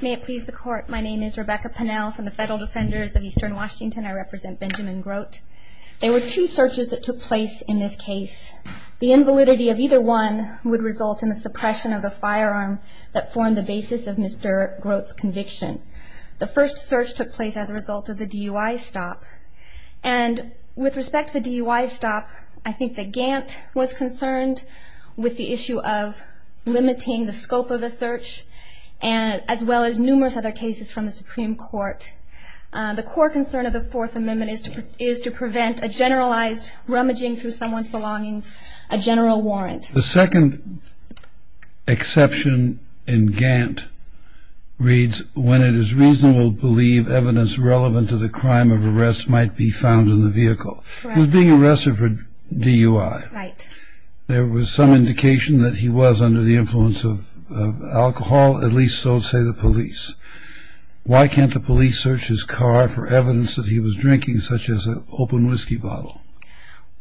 May it please the court, my name is Rebecca Pennell from the Federal Defenders of Eastern Washington. I represent Benjamin Grote. There were two searches that took place in this case. The invalidity of either one would result in the suppression of the firearm that formed the basis of Mr. Grote's conviction. The first search took place as a result of the DUI stop, and with respect to the DUI stop, I think that Gant was concerned with the issue of limiting the scope of the search, as well as numerous other cases from the Supreme Court. The core concern of the Fourth Amendment is to prevent a generalized rummaging through someone's belongings, a general warrant. The second exception in Gant reads, when it is reasonable to believe evidence relevant to the crime of arrest might be found in the vehicle. He was being arrested for DUI. There was some indication that he was under the influence of alcohol, at least so say the police. Why can't the police search his car for evidence that he was drinking, such as an open whiskey bottle?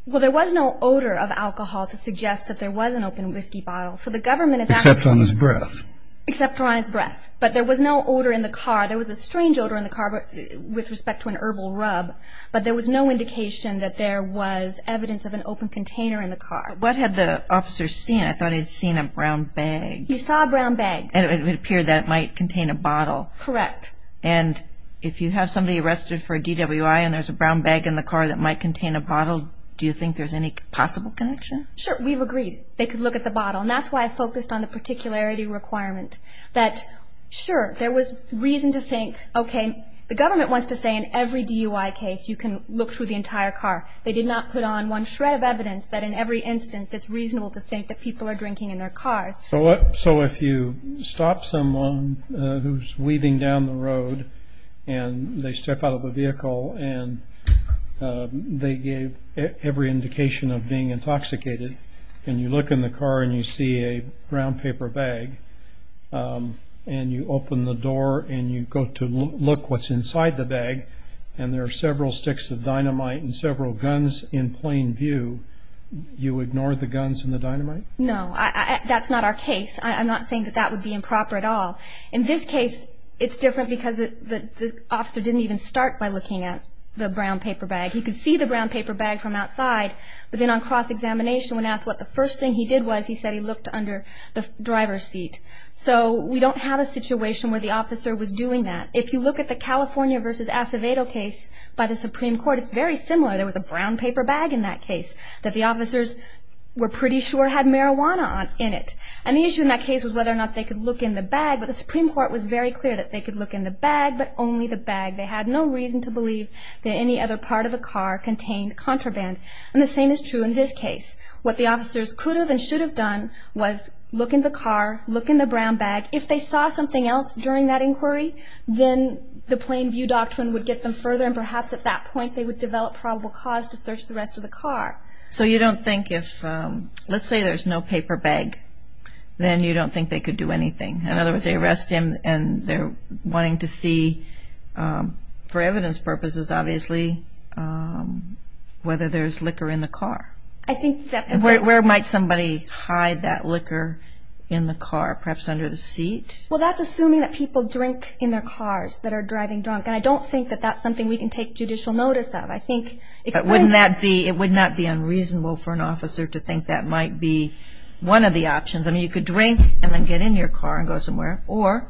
Well, there was no odor of alcohol to suggest that there was an open whiskey bottle. Except on his breath. Except on his breath. But there was no odor in the car. There was a strange odor in the car with respect to an herbal rub, but there was no indication that there was evidence of an open container in the car. What had the officer seen? I thought he'd seen a brown bag. He saw a brown bag. And it would appear that it might contain a bottle. Correct. And if you have somebody arrested for a DWI and there's a brown bag in the car that might contain a bottle, do you think there's any possible connection? Sure. We've agreed they could look at the bottle. And that's why I focused on the particularity requirement. That, sure, there was reason to think, okay, the government wants to say in every DUI case you can look through the entire car. They did not put on one shred of evidence that in every instance it's reasonable to think that people are drinking in their cars. So if you stop someone who's weaving down the road and they step out of the vehicle and they gave every indication of being intoxicated, and you look in the car and you see a brown paper bag, and you open the door and you go to look what's inside the bag, and there are several sticks of dynamite and several guns in plain view, you ignore the guns and the dynamite? No. That's not our case. I'm not saying that that would be improper at all. In this case, it's different because the officer didn't even start by looking at the brown paper bag. He could see the brown paper bag from outside, but then on cross-examination when asked what the first thing he did was, he said he looked under the driver's seat. So we don't have a situation where the officer was doing that. If you look at the California v. Acevedo case by the Supreme Court, it's very similar. There was a brown paper bag in that case that the officers were pretty sure had marijuana in it, and the issue in that case was whether or not they could look in the bag, but the Supreme Court was very clear that they could look in the bag, but only the bag. They had no reason to believe that any other part of the car contained contraband, and the same is true in this case. What the officers could have and should have done was look in the car, look in the brown bag. If they saw something else during that inquiry, then the plain view doctrine would get them further, and perhaps at that point they would develop probable cause to search the rest of the car. So you don't think if, let's say there's no paper bag, then you don't think they could do anything. In other words, they arrest him and they're wanting to see, for evidence purposes obviously, whether there's liquor in the car. I think that's a good point. Where might somebody hide that liquor in the car, perhaps under the seat? Well, that's assuming that people drink in their cars that are driving drunk, and I don't think that that's something we can take judicial notice of. But wouldn't that be unreasonable for an officer to think that might be one of the options? I mean, you could drink and then get in your car and go somewhere, or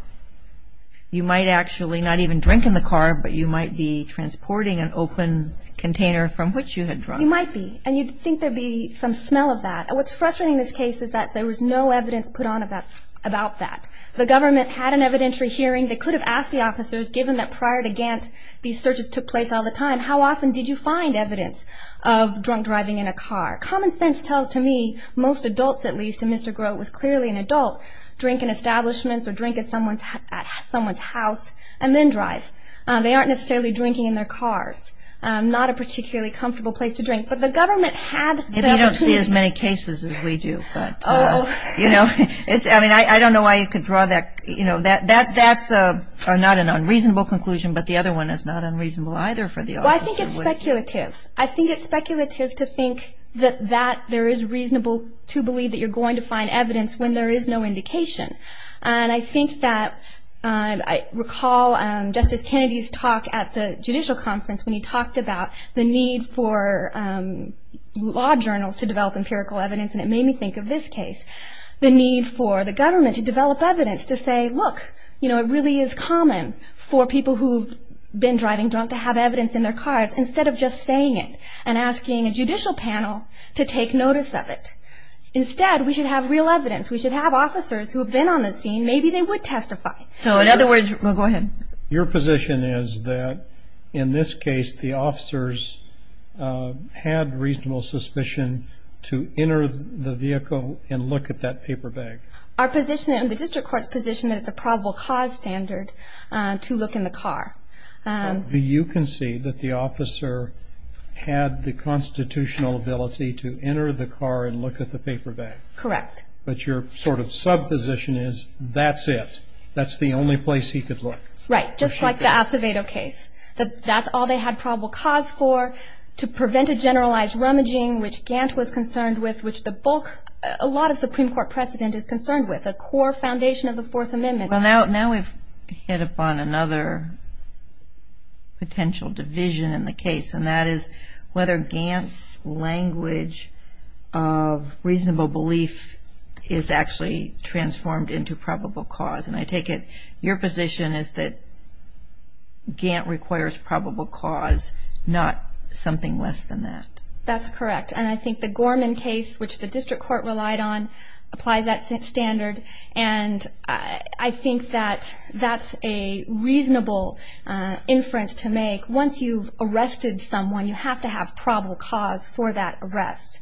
you might actually not even drink in the car, but you might be transporting an open container from which you had drunk. You might be, and you'd think there'd be some smell of that. What's frustrating in this case is that there was no evidence put on about that. The government had an evidentiary hearing. They could have asked the officers, given that prior to Gantt, these searches took place all the time, how often did you find evidence of drunk driving in a car? Common sense tells to me most adults, at least, and Mr. Grote was clearly an adult, drink in establishments or drink at someone's house and then drive. They aren't necessarily drinking in their cars. Not a particularly comfortable place to drink. But the government had the evidence. Maybe you don't see as many cases as we do. I mean, I don't know why you could draw that. That's not an unreasonable conclusion, but the other one is not unreasonable either for the officer. Well, I think it's speculative. I think it's speculative to think that there is reasonable to believe that you're going to find evidence when there is no indication. And I think that I recall Justice Kennedy's talk at the judicial conference when he talked about the need for law journals to develop empirical evidence, and it made me think of this case, the need for the government to develop evidence to say, look, you know, it really is common for people who have been driving drunk to have evidence in their cars instead of just saying it and asking a judicial panel to take notice of it. Instead, we should have real evidence. We should have officers who have been on the scene. Maybe they would testify. So, in other words, go ahead. Your position is that in this case the officers had reasonable suspicion to enter the vehicle and look at that paper bag. Our position and the district court's position is that it's a probable cause standard to look in the car. You can see that the officer had the constitutional ability to enter the car and look at the paper bag. Correct. But your sort of subposition is that's it. That's the only place he could look. Right. Just like the Acevedo case. That's all they had probable cause for, to prevent a generalized rummaging, which Gantt was concerned with, which the bulk, a lot of Supreme Court precedent is concerned with, the core foundation of the Fourth Amendment. Well, now we've hit upon another potential division in the case, and that is whether Gantt's language of reasonable belief is actually transformed into probable cause. And I take it your position is that Gantt requires probable cause, not something less than that. That's correct. And I think the Gorman case, which the district court relied on, applies that standard. And I think that that's a reasonable inference to make. Once you've arrested someone, you have to have probable cause for that arrest.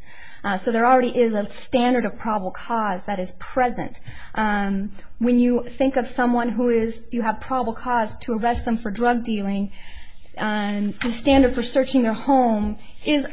So there already is a standard of probable cause that is present. When you think of someone who you have probable cause to arrest them for drug dealing, the standard for searching their home is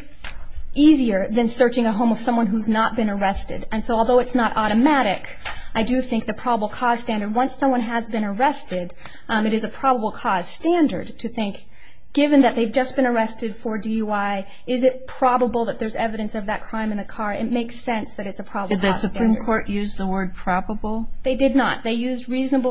easier than searching a home of someone who's not been arrested. And so although it's not automatic, I do think the probable cause standard, once someone has been arrested, it is a probable cause standard to think, given that they've just been arrested for DUI, is it probable that there's evidence of that crime in the car? It makes sense that it's a probable cause standard. Did the Supreme Court use the word probable? They did not. They used reason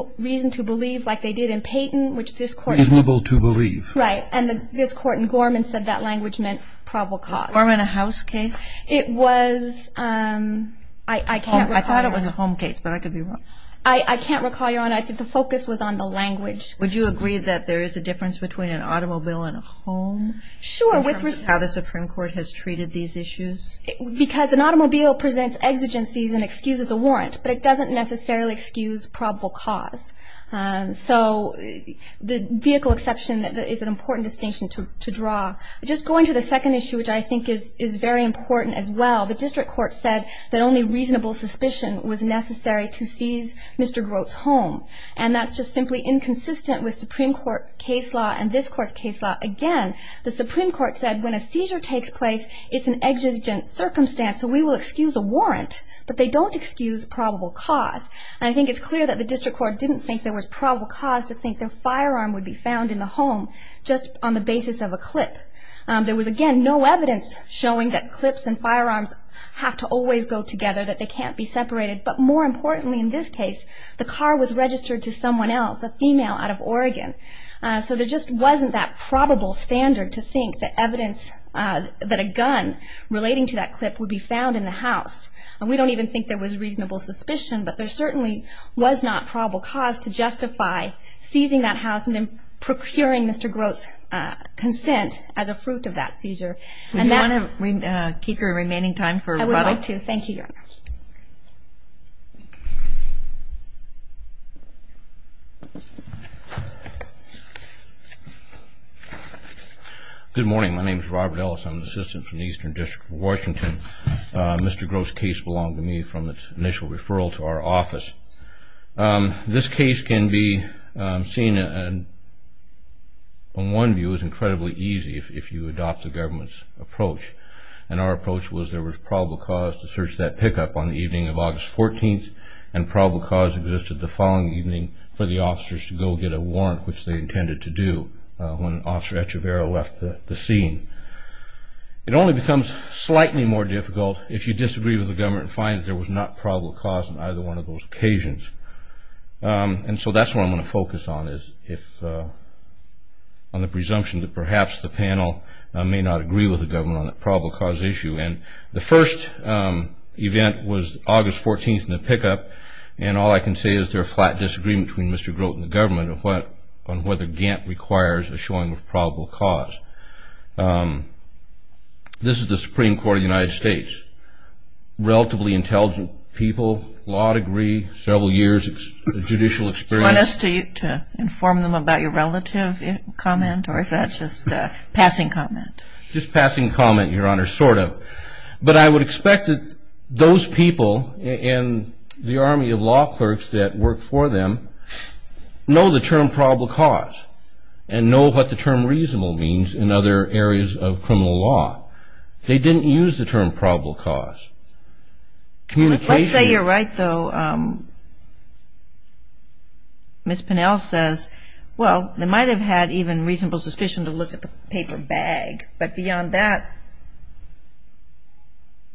to believe like they did in Payton, which this Court used. Reasonable to believe. Right. And this Court in Gorman said that language meant probable cause. Was Gorman a house case? It was. I can't recall. I thought it was a home case, but I could be wrong. I can't recall, Your Honor. I think the focus was on the language. Would you agree that there is a difference between an automobile and a home? Sure. In terms of how the Supreme Court has treated these issues? Because an automobile presents exigencies and excuses a warrant, but it doesn't necessarily excuse probable cause. So the vehicle exception is an important distinction to draw. Just going to the second issue, which I think is very important as well, the district court said that only reasonable suspicion was necessary to seize Mr. Grote's home, and that's just simply inconsistent with Supreme Court case law and this Court's case law. Again, the Supreme Court said when a seizure takes place, it's an exigent circumstance, so we will excuse a warrant, but they don't excuse probable cause. And I think it's clear that the district court didn't think there was probable cause to think their firearm would be found in the home just on the basis of a clip. There was, again, no evidence showing that clips and firearms have to always go together, that they can't be separated, but more importantly in this case, the car was registered to someone else, a female out of Oregon. So there just wasn't that probable standard to think that evidence, that a gun relating to that clip would be found in the house. And we don't even think there was reasonable suspicion, but there certainly was not probable cause to justify seizing that house and procuring Mr. Grote's consent as a fruit of that seizure. Do you want to keep your remaining time for rebuttal? I would like to. Thank you, Your Honor. Good morning. My name is Robert Ellis. I'm an assistant from the Eastern District of Washington. Mr. Grote's case belonged to me from its initial referral to our office. This case can be seen, in one view, as incredibly easy if you adopt the government's approach. And our approach was there was probable cause to search that pickup on the evening of August 14th, and probable cause existed the following evening for the officers to go get a warrant, which they intended to do when Officer Echeverria left the scene. It only becomes slightly more difficult if you disagree with the government and find that there was not probable cause on either one of those occasions. And so that's what I'm going to focus on, is on the presumption that perhaps the panel may not agree with the government on that probable cause issue. And the first event was August 14th in the pickup, and all I can say is there's a flat disagreement between Mr. Grote and the government on whether Gantt requires a showing of probable cause. This is the Supreme Court of the United States. Relatively intelligent people, law degree, several years of judicial experience. Do you want us to inform them about your relative comment, or is that just a passing comment? Just passing comment, Your Honor, sort of. But I would expect that those people and the army of law clerks that work for them know the term probable cause and know what the term reasonable means in other areas of criminal law. They didn't use the term probable cause. Let's say you're right, though. Ms. Pinnell says, well, they might have had even reasonable suspicion to look at the paper bag, but beyond that,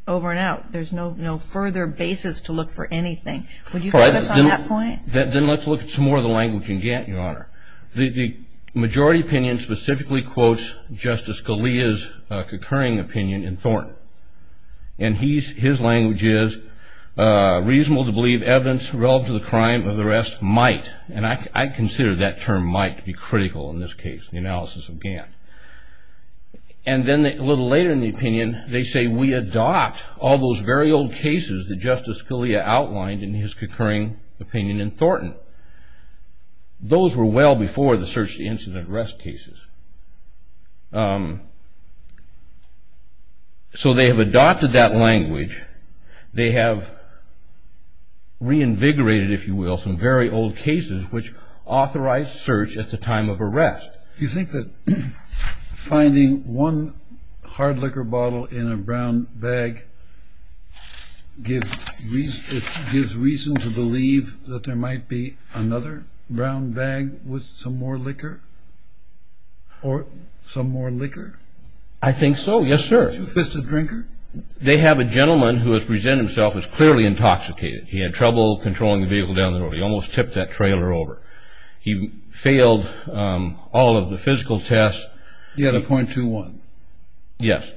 over and out, there's no further basis to look for anything. Would you focus on that point? Then let's look at some more of the language in Gantt, Your Honor. The majority opinion specifically quotes Justice Scalia's concurring opinion in Thornton, and his language is reasonable to believe evidence relative to the crime of the arrest might, and I consider that term might to be critical in this case, the analysis of Gantt. And then a little later in the opinion, they say, all those very old cases that Justice Scalia outlined in his concurring opinion in Thornton, those were well before the search-the-incident arrest cases. So they have adopted that language. They have reinvigorated, if you will, some very old cases which authorized search at the time of arrest. Do you think that finding one hard liquor bottle in a brown bag gives reason to believe that there might be another brown bag with some more liquor or some more liquor? I think so, yes, sir. Two-fisted drinker? They have a gentleman who has presented himself as clearly intoxicated. He had trouble controlling the vehicle down the road. He almost tipped that trailer over. He failed all of the physical tests. He had a .21. Yes.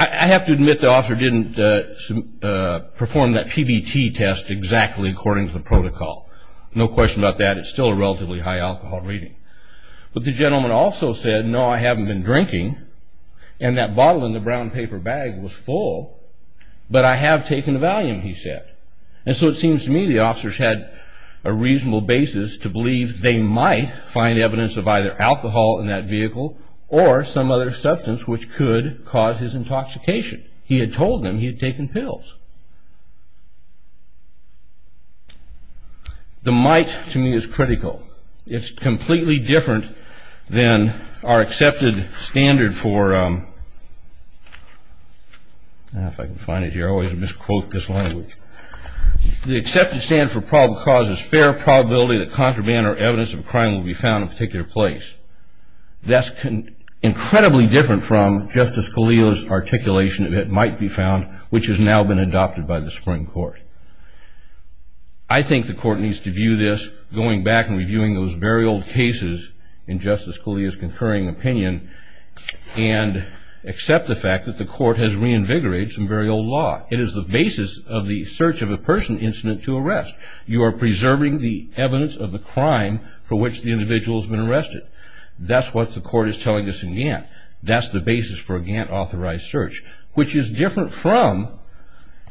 I have to admit the officer didn't perform that PBT test exactly according to the protocol. No question about that. It's still a relatively high alcohol rating. But the gentleman also said, no, I haven't been drinking, and that bottle in the brown paper bag was full, but I have taken a Valium, he said. And so it seems to me the officers had a reasonable basis to believe they might find evidence of either alcohol in that vehicle or some other substance which could cause his intoxication. He had told them he had taken pills. The might, to me, is critical. It's completely different than our accepted standard for, if I can find it here. I always misquote this language. The accepted standard for probable cause is fair probability that contraband or evidence of a crime will be found in a particular place. That's incredibly different from Justice Scalia's articulation that it might be found, which has now been adopted by the Supreme Court. I think the court needs to view this, going back and reviewing those very old cases in Justice Scalia's concurring opinion, and accept the fact that the court has reinvigorated some very old law. It is the basis of the search of a person incident to arrest. You are preserving the evidence of the crime for which the individual has been arrested. That's what the court is telling us in Gantt. That's the basis for a Gantt-authorized search, which is different from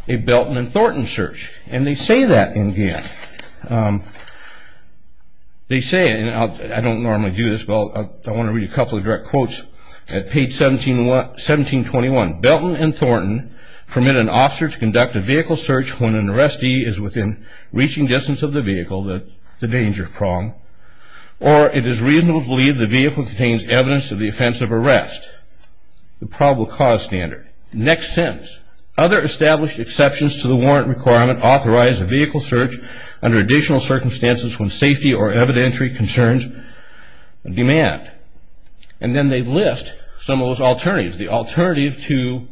a Belton and Thornton search. And they say that in Gantt. They say, and I don't normally do this, but I want to read a couple of direct quotes at page 1721. Belton and Thornton permit an officer to conduct a vehicle search when an arrestee is within reaching distance of the vehicle, the danger prong, or it is reasonable to believe the vehicle contains evidence of the offense of arrest, the probable cause standard. Next sentence. Other established exceptions to the warrant requirement authorize a vehicle search under additional circumstances when safety or evidentiary concerns demand. And then they list some of those alternatives. The alternative to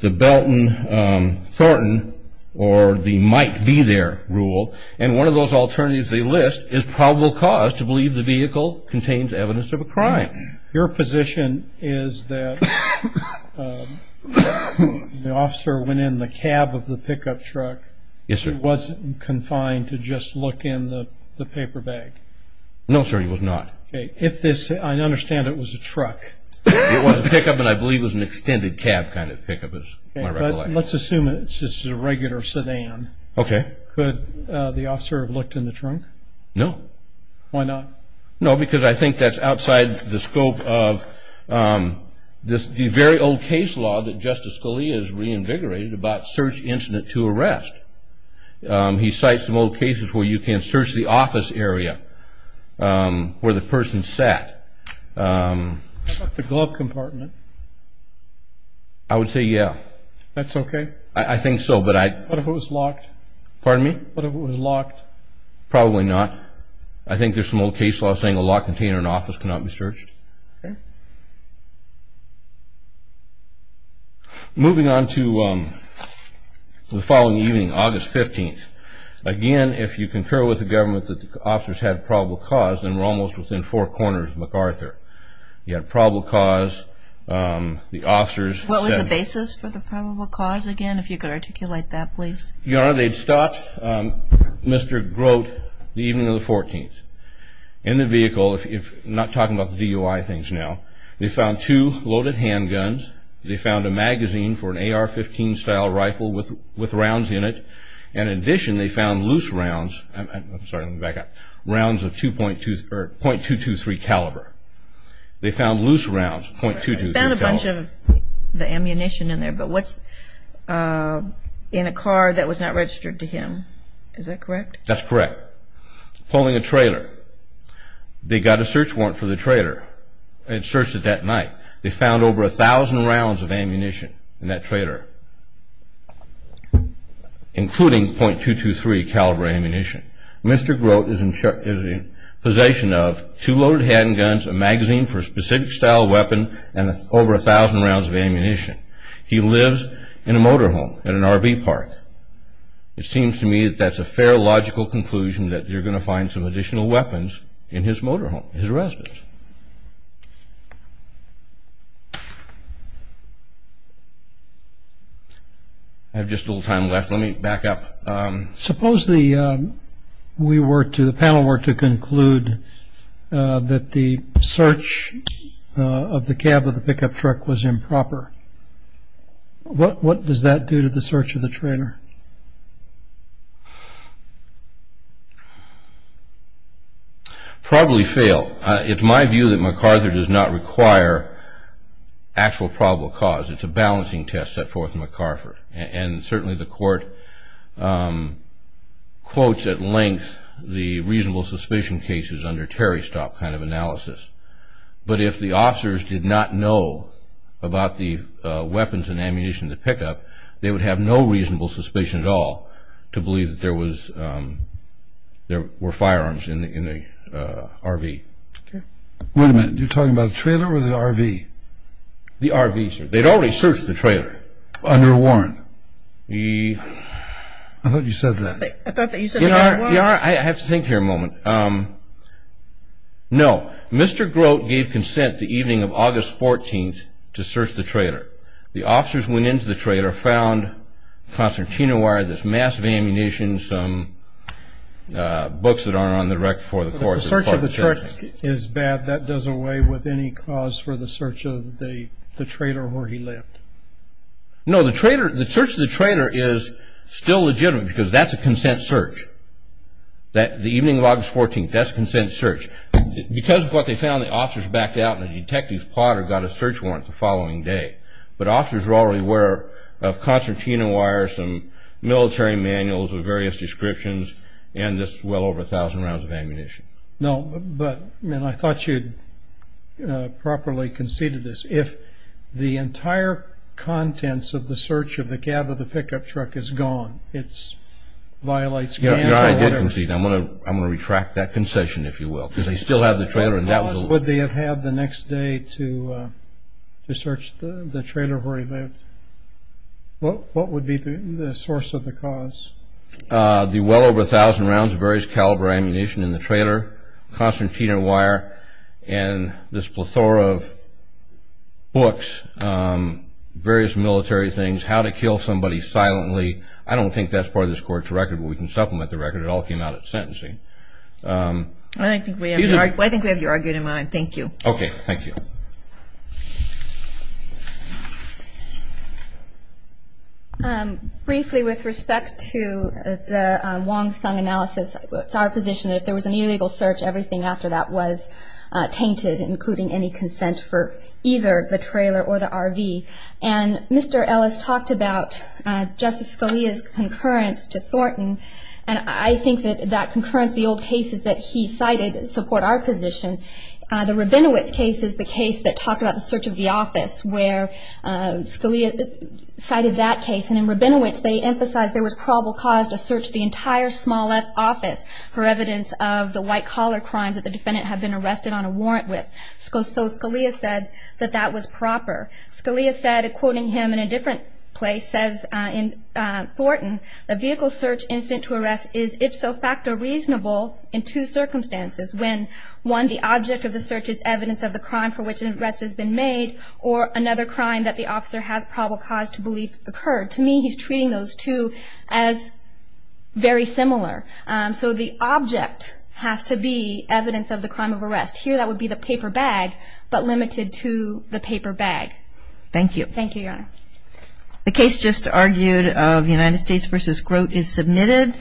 the Belton, Thornton, or the might be there rule, and one of those alternatives they list is probable cause to believe the vehicle contains evidence of a crime. Your position is that the officer went in the cab of the pickup truck. Yes, sir. He wasn't confined to just look in the paper bag. No, sir, he was not. Okay. If this, I understand it was a truck. It was a pickup, and I believe it was an extended cab kind of pickup, is my recollection. But let's assume it's just a regular sedan. Okay. Could the officer have looked in the trunk? No. Why not? No, because I think that's outside the scope of the very old case law that Justice Scalia has reinvigorated about search incident to arrest. He cites some old cases where you can search the office area where the person sat. How about the glove compartment? I would say yeah. That's okay? I think so. What if it was locked? Pardon me? What if it was locked? Probably not. I think there's some old case law saying a locked container in an office cannot be searched. Okay. Moving on to the following evening, August 15th. Again, if you concur with the government that the officers had probable cause, then we're almost within four corners of MacArthur. You had probable cause, the officers. What was the basis for the probable cause again, if you could articulate that, please? Your Honor, they'd start. They found Mr. Grote the evening of the 14th in the vehicle. I'm not talking about the DUI things now. They found two loaded handguns. They found a magazine for an AR-15 style rifle with rounds in it. In addition, they found loose rounds. I'm sorry, let me back up. Rounds of .223 caliber. They found loose rounds, .223 caliber. I found a bunch of the ammunition in there, but what's in a car that was not registered to him? Is that correct? That's correct. Pulling a trailer. They got a search warrant for the trailer and searched it that night. They found over 1,000 rounds of ammunition in that trailer, including .223 caliber ammunition. Mr. Grote is in possession of two loaded handguns, a magazine for a specific style weapon, and over 1,000 rounds of ammunition. He lives in a motor home at an RV park. It seems to me that that's a fair, logical conclusion, that you're going to find some additional weapons in his motor home, his residence. I have just a little time left. Let me back up. Suppose the panel were to conclude that the search of the cab of the pickup truck was improper. What does that do to the search of the trailer? Probably fail. It's my view that MacArthur does not require actual probable cause. It's a balancing test set forth in MacArthur. And certainly the court quotes at length the reasonable suspicion cases under Terry Stock kind of analysis. But if the officers did not know about the weapons and ammunition in the pickup, they would have no reasonable suspicion at all to believe that there were firearms in the RV. Wait a minute. You're talking about the trailer or the RV? They'd already searched the trailer. Under a warrant. I thought you said that. I thought that you said under a warrant. I have to think here a moment. No. Mr. Grote gave consent the evening of August 14th to search the trailer. The officers went into the trailer, found concertina wire, there's massive ammunition, some books that aren't on the record for the court. So the search of the truck is bad. That does away with any cause for the search of the trailer where he lived. No. The search of the trailer is still legitimate because that's a consent search. The evening of August 14th, that's a consent search. Because of what they found, the officers backed out, and a detective's plotter got a search warrant the following day. But officers were already aware of concertina wire, some military manuals with various descriptions, and this well over 1,000 rounds of ammunition. No, but I thought you'd properly conceded this. If the entire contents of the search of the cab of the pickup truck is gone, it violates cancel, whatever. I did concede. I'm going to retract that concession, if you will, because they still have the trailer. What cause would they have had the next day to search the trailer where he lived? What would be the source of the cause? The well over 1,000 rounds of various caliber ammunition in the trailer, concertina wire, and this plethora of books, various military things, how to kill somebody silently. I don't think that's part of this court's record, but we can supplement the record. It all came out at sentencing. I think we have you argued in mind. Thank you. Briefly, with respect to the Wong-Sung analysis, it's our position that if there was an illegal search, everything after that was tainted, including any consent for either the trailer or the RV. And Mr. Ellis talked about Justice Scalia's concurrence to Thornton, and I think that that concurrence, the old cases that he cited, support our position. The Rabinowitz case is the case that talked about the search of the office, where Scalia cited that case. And in Rabinowitz, they emphasized there was probable cause to search the entire small office for evidence of the white-collar crimes that the defendant had been arrested on a warrant with. So Scalia said that that was proper. Scalia said, quoting him in a different place, says in Thornton, the vehicle search incident to arrest is ipso facto reasonable in two circumstances, when, one, the object of the search is evidence of the crime for which an arrest has been made, or another crime that the officer has probable cause to believe occurred. To me, he's treating those two as very similar. So the object has to be evidence of the crime of arrest. Here, that would be the paper bag, but limited to the paper bag. Thank you. Thank you, Your Honor. The case just argued of United States v. Grote is submitted.